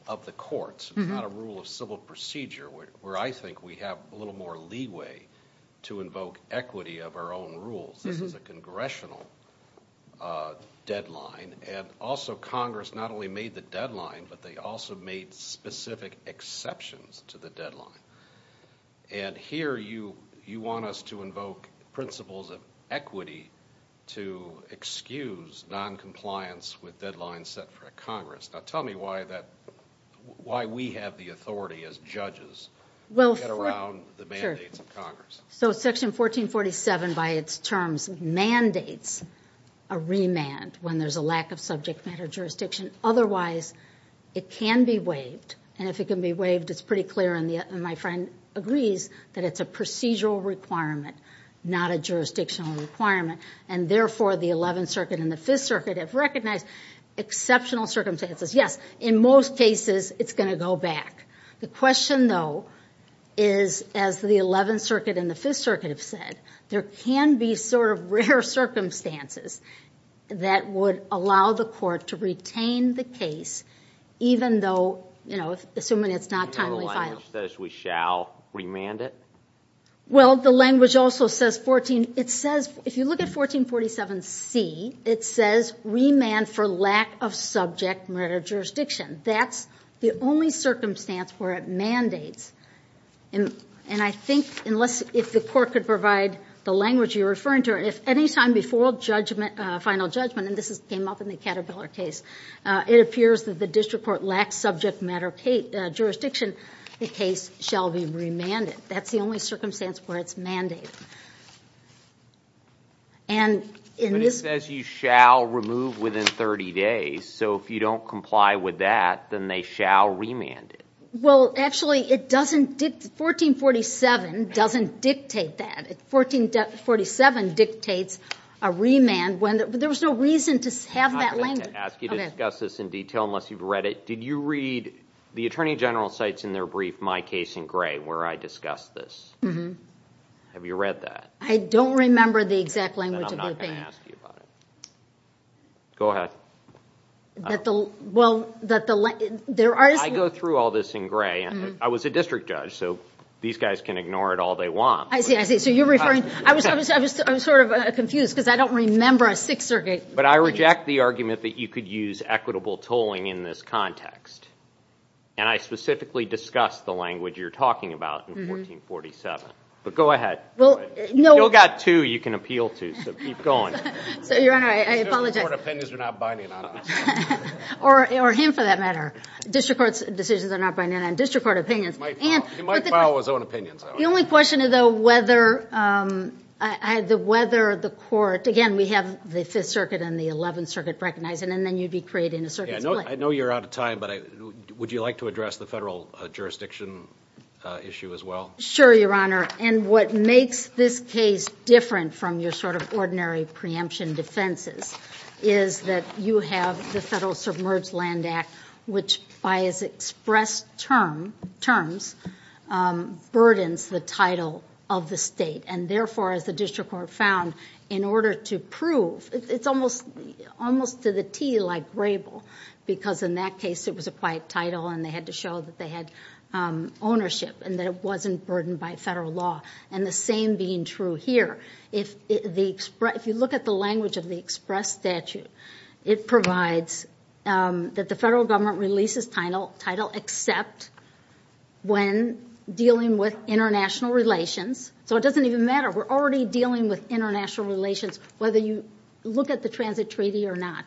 of the courts. It's not a rule of civil procedure where I think we have a little more leeway to invoke equity of our own rules. This is a congressional deadline, and also Congress not only made the deadline, but they also made specific exceptions to the deadline. And here you want us to invoke principles of equity to excuse noncompliance with deadlines set for Congress. Now, tell me why we have the authority as judges to get around the mandates of Congress. So Section 1447 by its terms mandates a remand when there's a lack of subject matter jurisdiction. Otherwise, it can be waived, and if it can be waived, it's pretty clear, and my friend agrees, that it's a procedural requirement, not a jurisdictional requirement. And therefore, the Eleventh Circuit and the Fifth Circuit have recognized exceptional circumstances. Yes, in most cases, it's going to go back. The question, though, is, as the Eleventh Circuit and the Fifth Circuit have said, there can be sort of rare circumstances that would allow the court to retain the case even though, you know, assuming it's not timely filed. The language says we shall remand it? Well, the language also says 14, it says, if you look at 1447C, it says remand for lack of subject matter jurisdiction. That's the only circumstance where it mandates. And I think if the court could provide the language you're referring to, if any time before final judgment, and this came up in the Caterpillar case, it appears that the district court lacks subject matter jurisdiction, the case shall be remanded. That's the only circumstance where it's mandated. But it says you shall remove within 30 days, so if you don't comply with that, then they shall remand it. Well, actually, it doesn't, 1447 doesn't dictate that. 1447 dictates a remand when, there was no reason to have that language. I'm going to have to ask you to discuss this in detail unless you've read it. Did you read the Attorney General's cites in their brief, My Case in Gray, where I discussed this? Have you read that? I don't remember the exact language of the thing. Then I'm not going to ask you about it. Go ahead. I go through all this in gray. I was a district judge, so these guys can ignore it all they want. I see, I see. So you're referring, I'm sort of confused because I don't remember a Sixth Circuit. But I reject the argument that you could use equitable tolling in this context. And I specifically discussed the language you're talking about in 1447. But go ahead. You've still got two you can appeal to, so keep going. Your Honor, I apologize. District court opinions are not binding on us. Or him, for that matter. District court decisions are not binding on district court opinions. He might file his own opinions, I don't know. The only question, though, whether the court, again, we have the Fifth Circuit and the Eleventh Circuit recognizing, and then you'd be creating a circuit split. I know you're out of time, but would you like to address the federal jurisdiction issue as well? Sure, Your Honor. And what makes this case different from your sort of ordinary preemption defenses is that you have the Federal Submerged Land Act, which by its express terms burdens the title of the state. And therefore, as the district court found, in order to prove, it's almost to the T like Grable, because in that case it was a quiet title and they had to show that they had ownership and that it wasn't burdened by federal law. And the same being true here. If you look at the language of the express statute, it provides that the federal government releases title except when dealing with international relations. So it doesn't even matter. We're already dealing with international relations, whether you look at the transit treaty or not,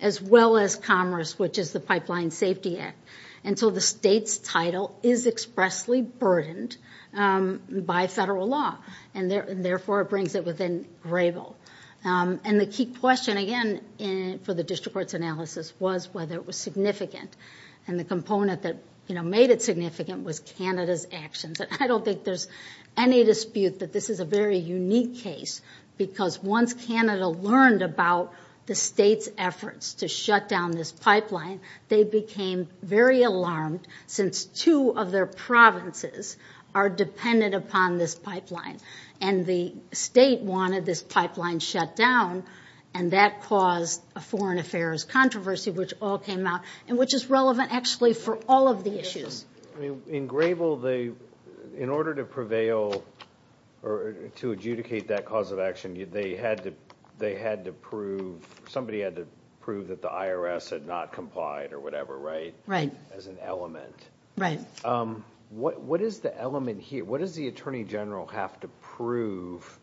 as well as commerce, which is the Pipeline Safety Act. And so the state's title is expressly burdened by federal law, and therefore it brings it within Grable. And the key question, again, for the district court's analysis was whether it was significant. And the component that made it significant was Canada's actions. And I don't think there's any dispute that this is a very unique case, because once Canada learned about the state's efforts to shut down this pipeline, they became very alarmed since two of their provinces are dependent upon this pipeline. And the state wanted this pipeline shut down, and that caused a foreign affairs controversy, which all came out, and which is relevant actually for all of the issues. In Grable, in order to prevail or to adjudicate that cause of action, they had to prove, somebody had to prove that the IRS had not complied or whatever, right? Right. As an element. Right. What is the element here? What does the Attorney General have to prove?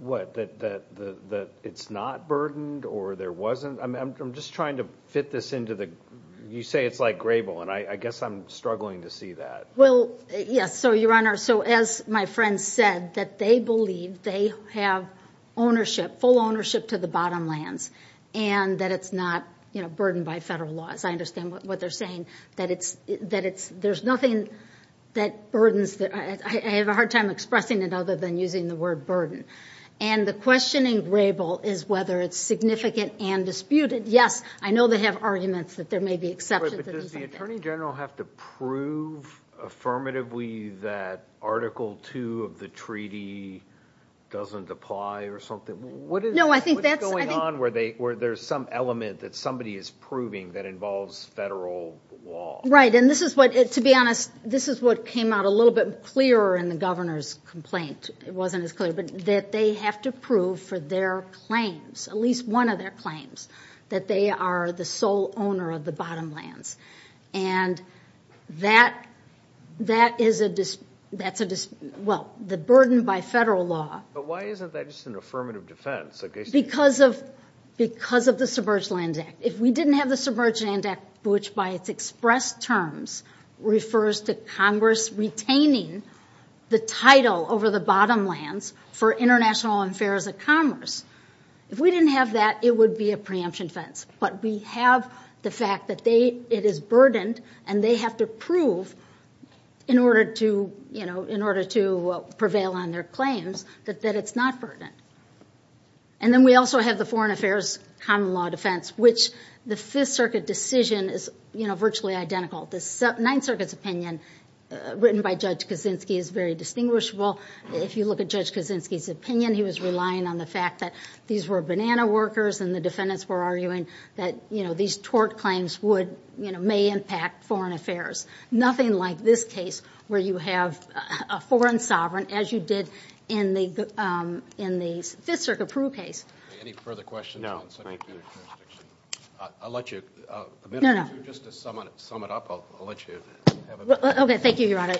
What, that it's not burdened or there wasn't? I'm just trying to fit this into the – you say it's like Grable, and I guess I'm struggling to see that. Well, yes. So, Your Honor, so as my friend said, that they believe they have ownership, full ownership to the bottom lands, and that it's not burdened by federal laws. I understand what they're saying, that it's – there's nothing that burdens – I have a hard time expressing it other than using the word burden. And the question in Grable is whether it's significant and disputed. Yes, I know they have arguments that there may be exceptions. But does the Attorney General have to prove affirmatively that Article II of the treaty doesn't apply or something? No, I think that's – Where there's some element that somebody is proving that involves federal law. And this is what – to be honest, this is what came out a little bit clearer in the governor's complaint. It wasn't as clear, but that they have to prove for their claims, at least one of their claims, that they are the sole owner of the bottom lands. And that is a – that's a – well, the burden by federal law. But why isn't that just an affirmative defense? Because of – because of the Submerged Lands Act. If we didn't have the Submerged Lands Act, which by its expressed terms, refers to Congress retaining the title over the bottom lands for international affairs of commerce, if we didn't have that, it would be a preemption fence. But we have the fact that they – it is burdened, and they have to prove in order to, you know, in order to prevail on their claims that it's not burdened. And then we also have the Foreign Affairs Common Law Defense, which the Fifth Circuit decision is, you know, virtually identical. The Ninth Circuit's opinion, written by Judge Kaczynski, is very distinguishable. If you look at Judge Kaczynski's opinion, he was relying on the fact that these were banana workers, and the defendants were arguing that, you know, these tort claims would, you know, may impact foreign affairs. Nothing like this case, where you have a foreign sovereign, as you did in the Fifth Circuit Peru case. Any further questions? No, thank you. I'll let you – just to sum it up, I'll let you have a minute. Okay, thank you, Your Honor.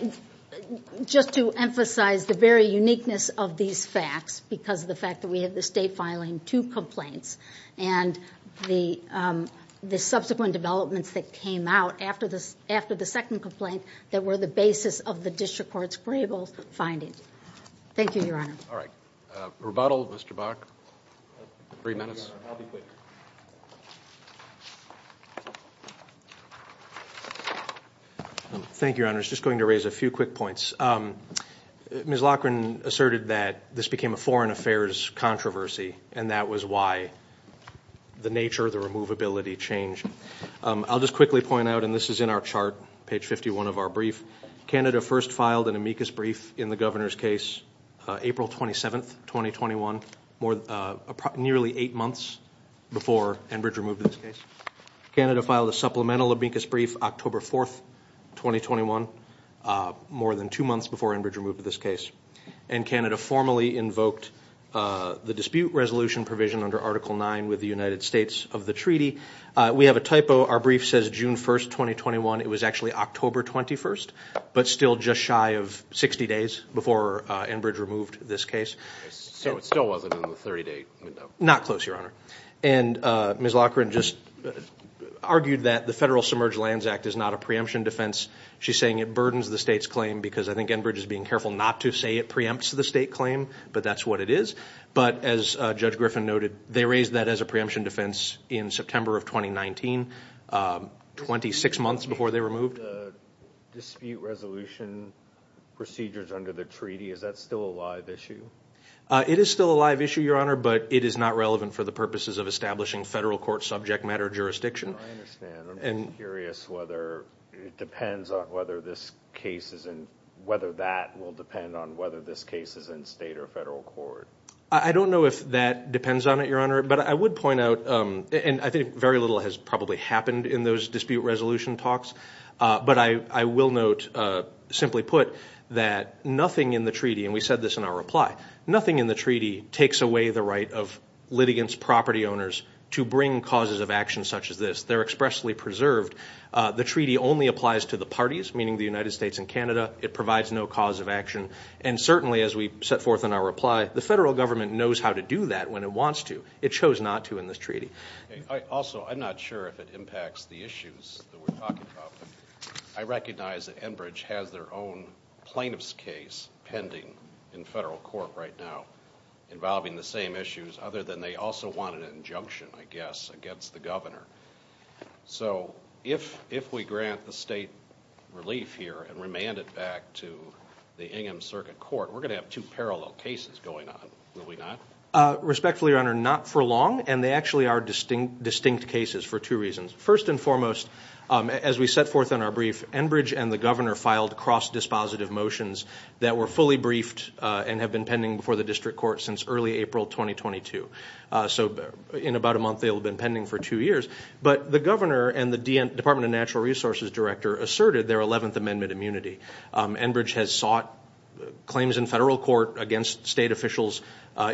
Just to emphasize the very uniqueness of these facts, because of the fact that we have the State filing two complaints, and the subsequent developments that came out after the second complaint that were the basis of the district court's grieval findings. Thank you, Your Honor. All right. Rebuttal, Mr. Bach. Three minutes. Thank you, Your Honor. I was just going to raise a few quick points. Ms. Loughran asserted that this became a foreign affairs controversy, and that was why the nature, the removability changed. I'll just quickly point out, and this is in our chart, page 51 of our brief, Canada first filed an amicus brief in the governor's case April 27th, 2021, nearly eight months before Enbridge removed this case. Canada filed a supplemental amicus brief October 4th, 2021, more than two months before Enbridge removed this case. And Canada formally invoked the dispute resolution provision under Article IX with the United States of the treaty. We have a typo. Our brief says June 1st, 2021. It was actually October 21st, but still just shy of 60 days before Enbridge removed this case. So it still wasn't in the 30-day window? Not close, Your Honor. And Ms. Loughran just argued that the Federal Submerged Lands Act is not a preemption defense. She's saying it burdens the State's claim, because I think Enbridge is being careful not to say it preempts the State claim, but that's what it is. But as Judge Griffin noted, they raised that as a preemption defense in September of 2019, 26 months before they removed. Dispute resolution procedures under the treaty, is that still a live issue? It is still a live issue, Your Honor, but it is not relevant for the purposes of establishing Federal court subject matter jurisdiction. I understand. I'm just curious whether it depends on whether this case is in, whether that will depend on whether this case is in State or Federal court. I don't know if that depends on it, Your Honor, but I would point out, and I think very little has probably happened in those dispute resolution talks, but I will note, simply put, that nothing in the treaty, and we said this in our reply, nothing in the treaty takes away the right of litigants, property owners, to bring causes of action such as this. They're expressly preserved. The treaty only applies to the parties, meaning the United States and Canada. It provides no cause of action. And certainly, as we set forth in our reply, the Federal government knows how to do that when it wants to. It chose not to in this treaty. Also, I'm not sure if it impacts the issues that we're talking about, but I recognize that Enbridge has their own plaintiff's case pending in Federal court right now, involving the same issues, other than they also want an injunction, I guess, against the governor. So if we grant the State relief here and remand it back to the Ingham Circuit Court, we're going to have two parallel cases going on, will we not? Respectfully, Your Honor, not for long, and they actually are distinct cases for two reasons. First and foremost, as we set forth in our brief, Enbridge and the governor filed cross-dispositive motions that were fully briefed and have been pending before the district court since early April 2022. So in about a month, they'll have been pending for two years. But the governor and the Department of Natural Resources director asserted their 11th Amendment immunity. Enbridge has sought claims in Federal court against State officials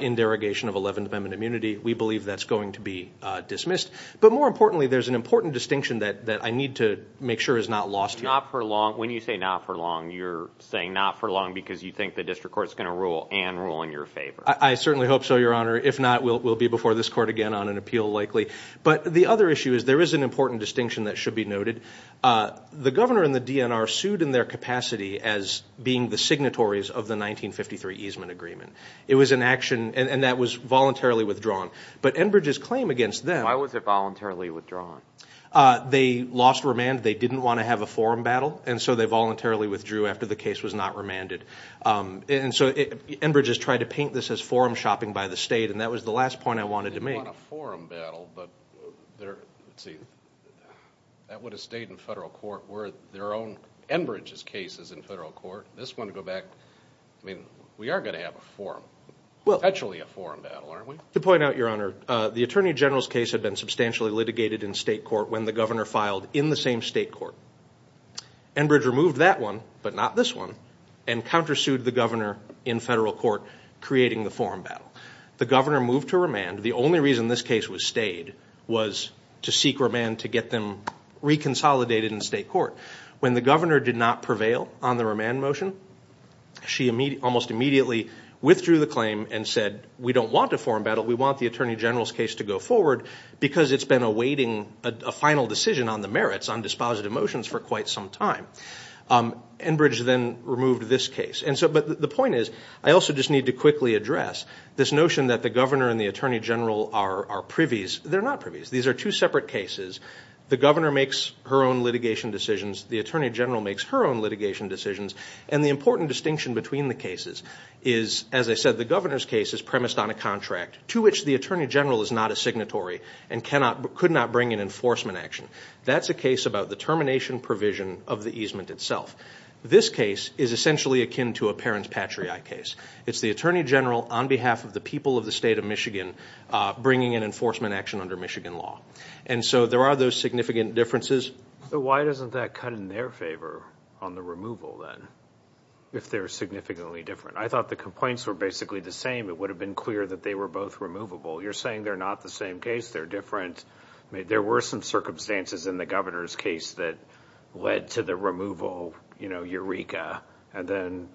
in derogation of 11th Amendment immunity. We believe that's going to be dismissed. But more importantly, there's an important distinction that I need to make sure is not lost. When you say not for long, you're saying not for long because you think the district court is going to rule and rule in your favor. I certainly hope so, Your Honor. If not, we'll be before this court again on an appeal, likely. But the other issue is there is an important distinction that should be noted. The governor and the DNR sued in their capacity as being the signatories of the 1953 easement agreement. It was an action, and that was voluntarily withdrawn. But Enbridge's claim against them. Why was it voluntarily withdrawn? They lost remand. They didn't want to have a forum battle, and so they voluntarily withdrew after the case was not remanded. And so Enbridge has tried to paint this as forum shopping by the State, and that was the last point I wanted to make. They want a forum battle, but let's see. That would have stayed in Federal court where their own Enbridge's case is in Federal court. This one, go back. I mean, we are going to have a forum, potentially a forum battle, aren't we? To point out, Your Honor, the Attorney General's case had been substantially litigated in State court when the governor filed in the same State court. Enbridge removed that one, but not this one, and countersued the governor in Federal court creating the forum battle. The governor moved to remand. The only reason this case was stayed was to seek remand to get them reconsolidated in State court. When the governor did not prevail on the remand motion, she almost immediately withdrew the claim and said, we don't want a forum battle. We want the Attorney General's case to go forward because it's been awaiting a final decision on the merits on dispositive motions for quite some time. Enbridge then removed this case. But the point is, I also just need to quickly address this notion that the governor and the Attorney General are privies. They're not privies. These are two separate cases. The governor makes her own litigation decisions. The Attorney General makes her own litigation decisions. And the important distinction between the cases is, as I said, the governor's case is premised on a contract, to which the Attorney General is not a signatory and could not bring an enforcement action. That's a case about the termination provision of the easement itself. This case is essentially akin to a parents patriae case. It's the Attorney General on behalf of the people of the State of Michigan bringing an enforcement action under Michigan law. And so there are those significant differences. So why doesn't that cut in their favor on the removal, then, if they're significantly different? I thought the complaints were basically the same. It would have been clear that they were both removable. You're saying they're not the same case, they're different. There were some circumstances in the governor's case that led to the removal, you know, Eureka, and then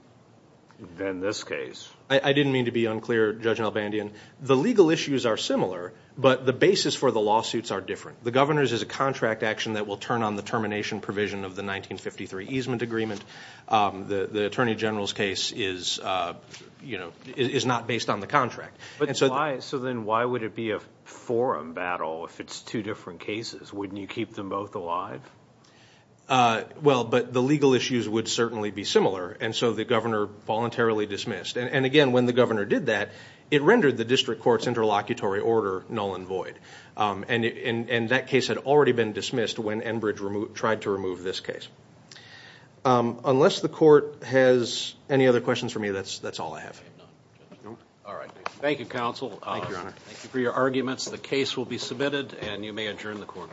this case. I didn't mean to be unclear, Judge Albandian. The legal issues are similar, but the basis for the lawsuits are different. The governor's is a contract action that will turn on the termination provision of the 1953 easement agreement. The Attorney General's case is, you know, is not based on the contract. So then why would it be a forum battle if it's two different cases? Wouldn't you keep them both alive? Well, but the legal issues would certainly be similar, and so the governor voluntarily dismissed. And, again, when the governor did that, it rendered the district court's interlocutory order null and void. And that case had already been dismissed when Enbridge tried to remove this case. Unless the court has any other questions for me, that's all I have. All right. Thank you, counsel. Thank you, Your Honor. Thank you for your arguments. The case will be submitted, and you may adjourn the court.